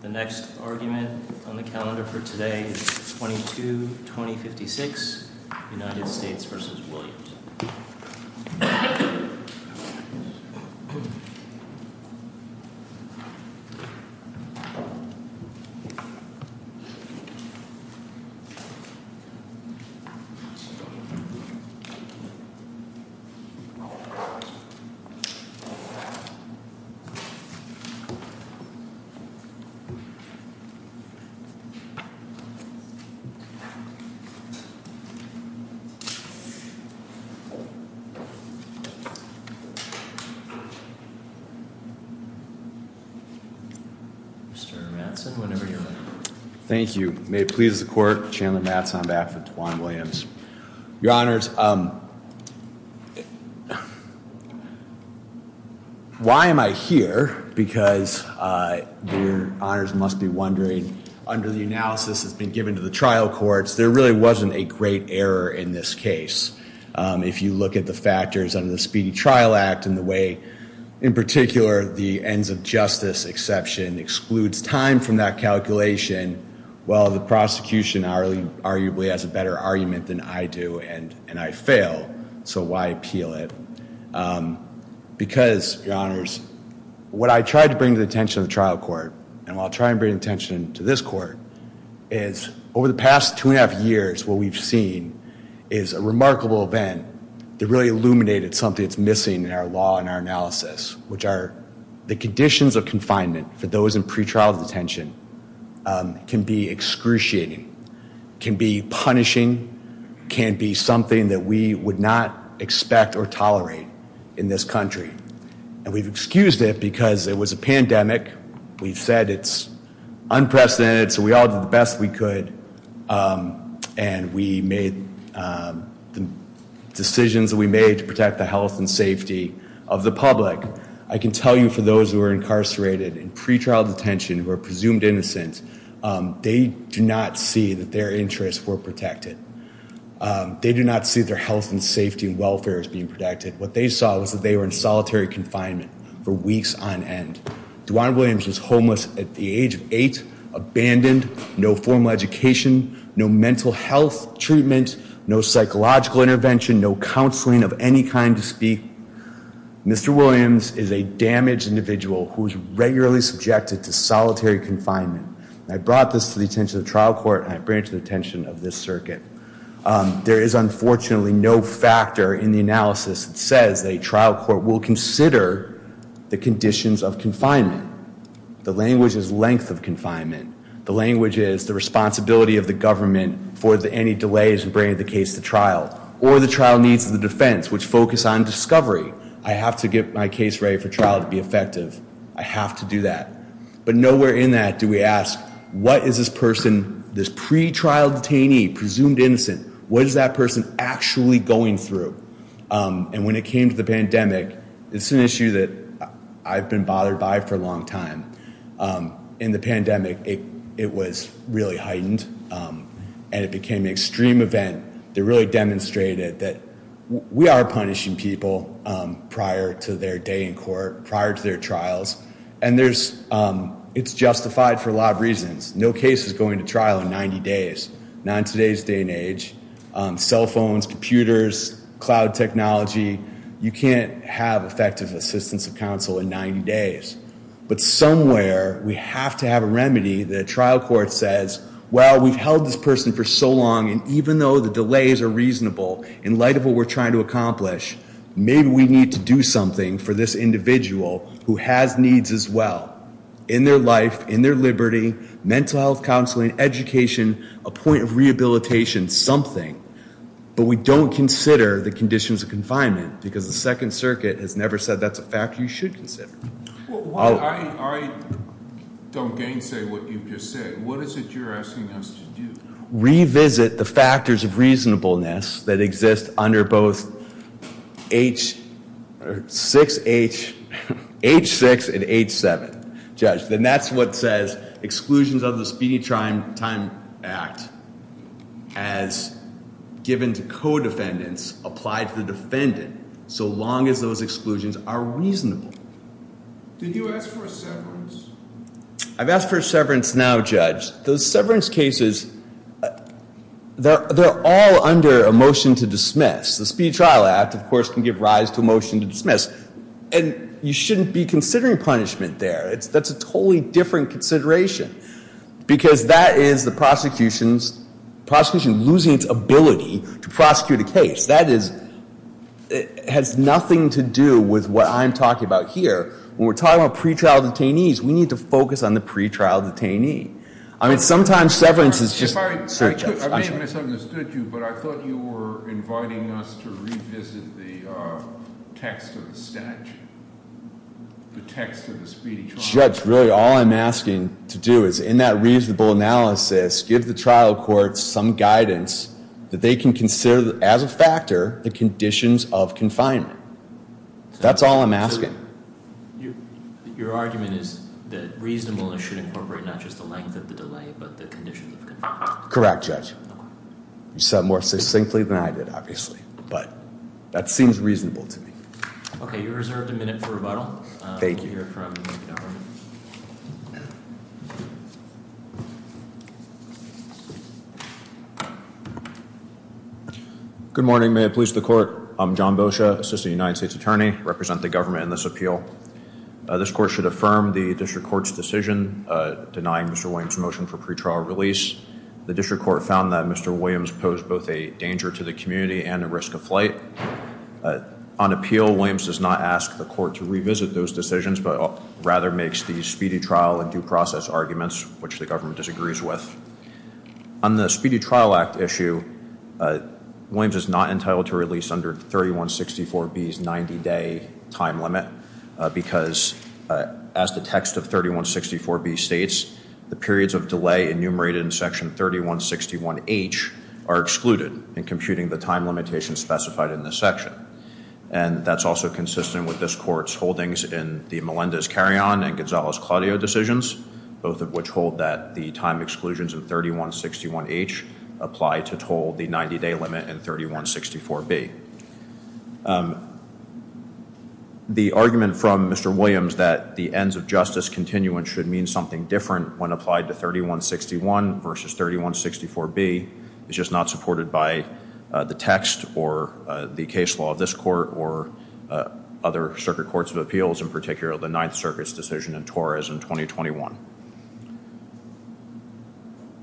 The next argument on the calendar for today is 22-2056, United States v. Williams. Mr. Matson, whenever you're ready. Thank you. May it please the court. Chandler Matson, on behalf of Tawan Williams. Your honors, why am I here? Because your honors must be wondering, under the analysis that's been given to the trial courts, there really wasn't a great error in this case. If you look at the factors under the Speedy Trial Act and the way, in particular, the ends of justice exception excludes time from that calculation, while the prosecution arguably has a better argument than I do, and I fail, so why appeal it? Because, your honors, what I tried to bring to the attention of the trial court, and I'll try and bring attention to this court, is over the past two and a half years, what we've seen is a remarkable event that really illuminated something that's missing in our law and our analysis, which are the conditions of confinement for those in pretrial detention can be excruciating, can be punishing, can be something that we would not expect or tolerate in this country. And we've excused it because it was a pandemic. We've said it's unprecedented, so we all did the best we could. And we made the decisions that we made to protect the health and safety of the public. I can tell you, for those who are incarcerated in pretrial detention, who are presumed innocent, they do not see that their interests were protected. They do not see their health and safety and welfare as being protected. What they saw was that they were in solitary confinement for weeks on end. Duann Williams was homeless at the age of eight, abandoned, no formal education, no mental health treatment, no psychological intervention, no counseling of any kind to speak. Mr. Williams is a damaged individual who is regularly subjected to solitary confinement. I brought this to the attention of the trial court and I bring it to the attention of this circuit. There is unfortunately no factor in the analysis that says a trial court will consider the conditions of confinement. The language is length of confinement. The language is the responsibility of the government for any delays in bringing the case to trial or the trial needs of the defense, which focus on discovery. I have to get my case ready for trial to be effective. I have to do that. But nowhere in that do we ask, what is this person, this pretrial detainee, presumed innocent, what is that person actually going through? And when it came to the pandemic, it's an issue that I've been bothered by for a long time. In the pandemic, it was really heightened and it became an extreme event that really demonstrated that we are punishing people prior to their day in court, prior to their trials. And it's justified for a lot of reasons. No case is going to trial in 90 days. Not in today's day and age. Cell phones, computers, cloud technology, you can't have effective assistance of counsel in 90 days. But somewhere we have to have a remedy. The trial court says, well, we've held this person for so long and even though the delays are in light of what we're trying to accomplish, maybe we need to do something for this individual who has needs as well in their life, in their liberty, mental health counseling, education, a point of rehabilitation, something. But we don't consider the conditions of confinement because the Second Circuit has never said that's a fact you should consider. Well, I don't gainsay what you've just said. What is it you're asking us to do? Revisit the factors of reasonableness that exist under both H6 and H7, Judge. Then that's what says exclusions of the Speedy Time Act as given to co-defendants apply to the defendant so long as those exclusions are reasonable. Did you ask for a severance? I've asked for a severance now, Judge. Those severance cases, they're all under a motion to dismiss. The Speedy Trial Act, of course, can give rise to a motion to dismiss. And you shouldn't be considering punishment there. That's a totally different consideration because that is the prosecution losing its ability to prosecute a case. That has nothing to do with what I'm talking about here. When we're talking about pretrial detainees, we need to focus on the pretrial detainee. I mean, sometimes severance is just strict, Judge. I may have misunderstood you, but I thought you were inviting us to revisit the text of the statute, the text of the Speedy Trial Act. Judge, really, all I'm asking to do is, in that reasonable analysis, give the trial courts some guidance that they can consider as a factor the conditions of confinement. That's all I'm asking. Your argument is that reasonableness should incorporate not just the length of the delay, but the conditions of confinement. Correct, Judge. You said it more succinctly than I did, obviously. But that seems reasonable to me. OK, you're reserved a minute for rebuttal. Thank you. We'll let you hear it from the government. Good morning. May it please the court. I'm John Boccia, Assistant United States Attorney. I represent the government in this appeal. This court should affirm the district court's decision denying Mr. Williams' motion for pretrial release. The district court found that Mr. Williams posed both a danger to the community and a risk of flight. On appeal, Williams does not ask the court to revisit those decisions, but rather makes these speedy trial and due process arguments, which the government disagrees with. On the Speedy Trial Act issue, Williams is not entitled to release under 3164B's 90-day time limit, because as the text of 3164B states, the periods of delay enumerated in section 3161H are excluded in computing the time limitations specified in this section. And that's also consistent with this court's holdings in the Melendez-Carrion and Gonzalez-Claudio decisions, both of which hold that the time exclusions of 3161H apply to toll the 90-day limit in 3164B. The argument from Mr. Williams that the ends of justice continuance should mean something different when applied to 3161 versus 3164B is just not supported by the text or the case law of this court or other circuit courts of appeals, in particular the Ninth Circuit's decision in Torres in 2021.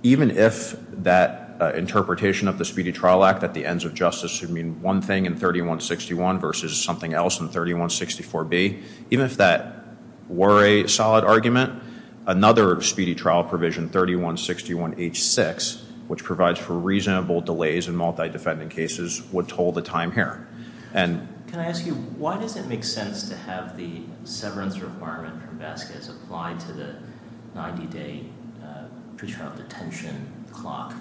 Even if that interpretation of the Speedy Trial Act at the ends of justice should mean one thing in 3161 versus something else in 3164B, even if that were a solid argument, another Speedy Trial provision, 3161H6, which provides for reasonable delays in multi-defendant cases, would toll the time here. And can I ask you, why does it make sense to have the severance requirement from Vasquez apply to the 90-day pretrial detention clock?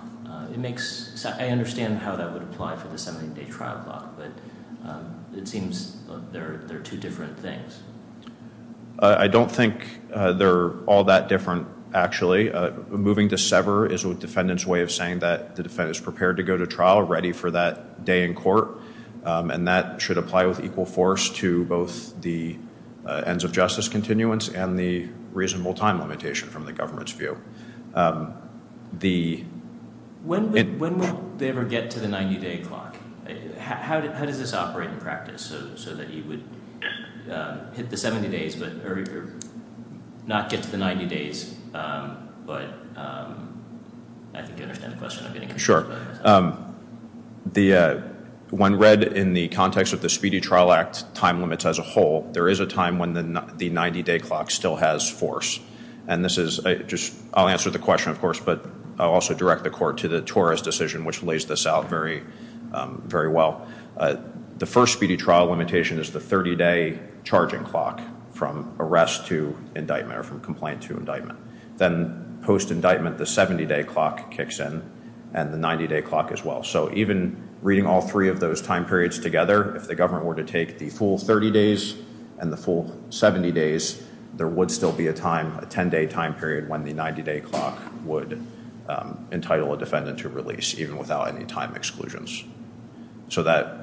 I understand how that would apply for the 70-day trial clock, but it seems they're two different things. I don't think they're all that different, actually. Moving to sever is a defendant's way of saying that the defendant is prepared to go to trial, ready for that day in court. And that should apply with equal force to both the ends of justice continuance and the reasonable time limitation from the government's view. The- When will they ever get to the 90-day clock? How does this operate in practice, so that you would hit the 70 days, but not get to the 90 days? But I think you understand the question. Sure. When read in the context of the Speedy Trial Act time limits as a whole, there is a time when the 90-day clock still has force. And this is just, I'll answer the question, of course, but I'll also direct the court to the Torres decision, which lays this out very well. The first Speedy Trial limitation is the 30-day charging clock, from arrest to indictment, or from complaint to indictment. Then post-indictment, the 70-day clock kicks in, and the 90-day clock as well. So even reading all three of those time periods together, if the government were to take the full 30 days and the full 70 days, there would still be a time, a 10-day time period, when the 90-day clock would entitle a defendant to release, even without any time exclusions. So that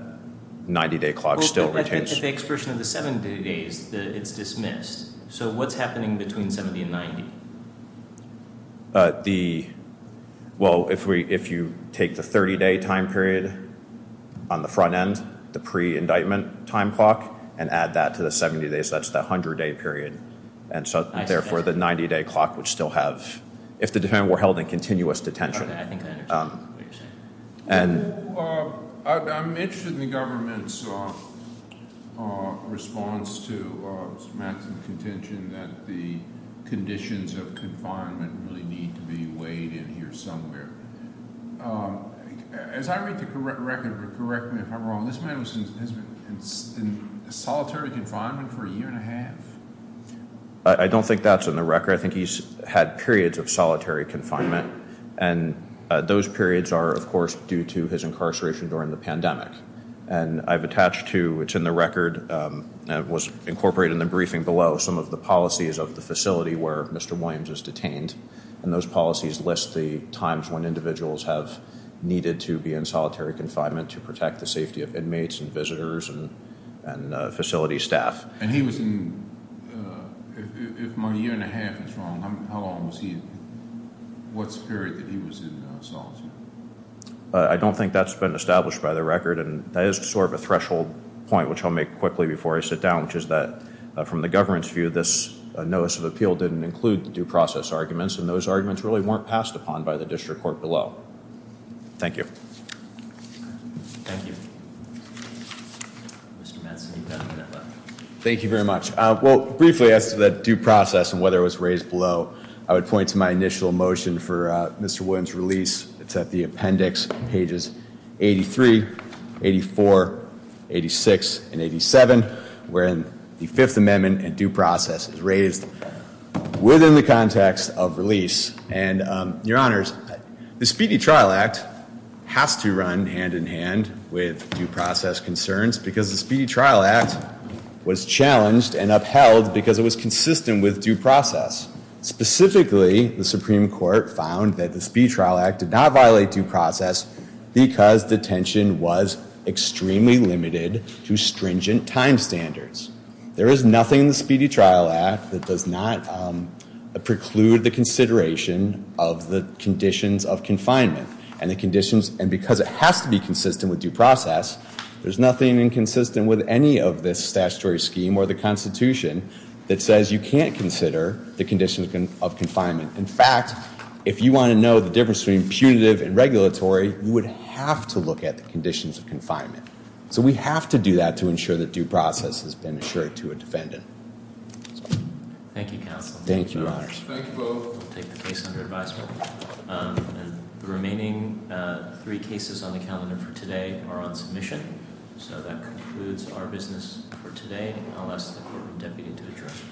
90-day clock still retains. The expression of the 70 days, it's dismissed. So what's happening between 70 and 90? Well, if you take the 30-day time period on the front end, the pre-indictment time clock, and add that to the 70 days, that's the 100-day period. And so therefore, the 90-day clock would still have, if the defendant were held in continuous detention. I think I understand what you're saying. I'm interested in the government's response to Mr. Mattson's contention that the conditions of confinement really need to be weighed in here somewhere. As I read the record, correct me if I'm wrong, this man has been in solitary confinement for a year and a half. I don't think that's in the record. I think he's had periods of solitary confinement. And those periods are, of course, due to his incarceration during the pandemic. And I've attached to, which in the record was incorporated in the briefing below, some of the policies of the facility where Mr. Williams is detained. And those policies list the times when individuals have needed to be in solitary confinement to protect the safety of inmates and visitors and facility staff. And he was in, if my year and a half is wrong, how long was he, what period that he was in solitary? I don't think that's been established by the record. And that is sort of a threshold point, which I'll make quickly before I sit down, which is that from the government's view, this notice of appeal didn't include the due process arguments. And those arguments really weren't passed upon by the district court below. Thank you. Thank you. Mr. Madsen, you've got a minute left. Thank you very much. Well, briefly as to that due process and whether it was raised below, I would point to my initial motion for Mr. Williams' release. It's at the appendix pages 83, 84, 86, and 87, wherein the Fifth Amendment and due process is raised within the context of release. And your honors, the Speedy Trial Act has to run hand in hand with due process concerns because the Speedy Trial Act was challenged and upheld because it was consistent with due process. Specifically, the Supreme Court found that the Speedy Trial Act did not violate due process because detention was extremely limited to stringent time standards. There is nothing in the Speedy Trial Act that does not preclude the consideration of the conditions of confinement. And because it has to be consistent with due process, there's nothing inconsistent with any of this statutory scheme or the Constitution that says you can't consider the conditions of confinement. In fact, if you want to know the difference between punitive and regulatory, you would have to look at the conditions of confinement. So we have to do that to ensure that due process has been assured to a defendant. Thank you, counsel. Thank you, your honors. Thank you both. I'll take the case under advisement. And the remaining three cases on the calendar for today are on submission. So that concludes our business for today. I'll ask the Court of Deputy to address. Court is adjourned. Thank you.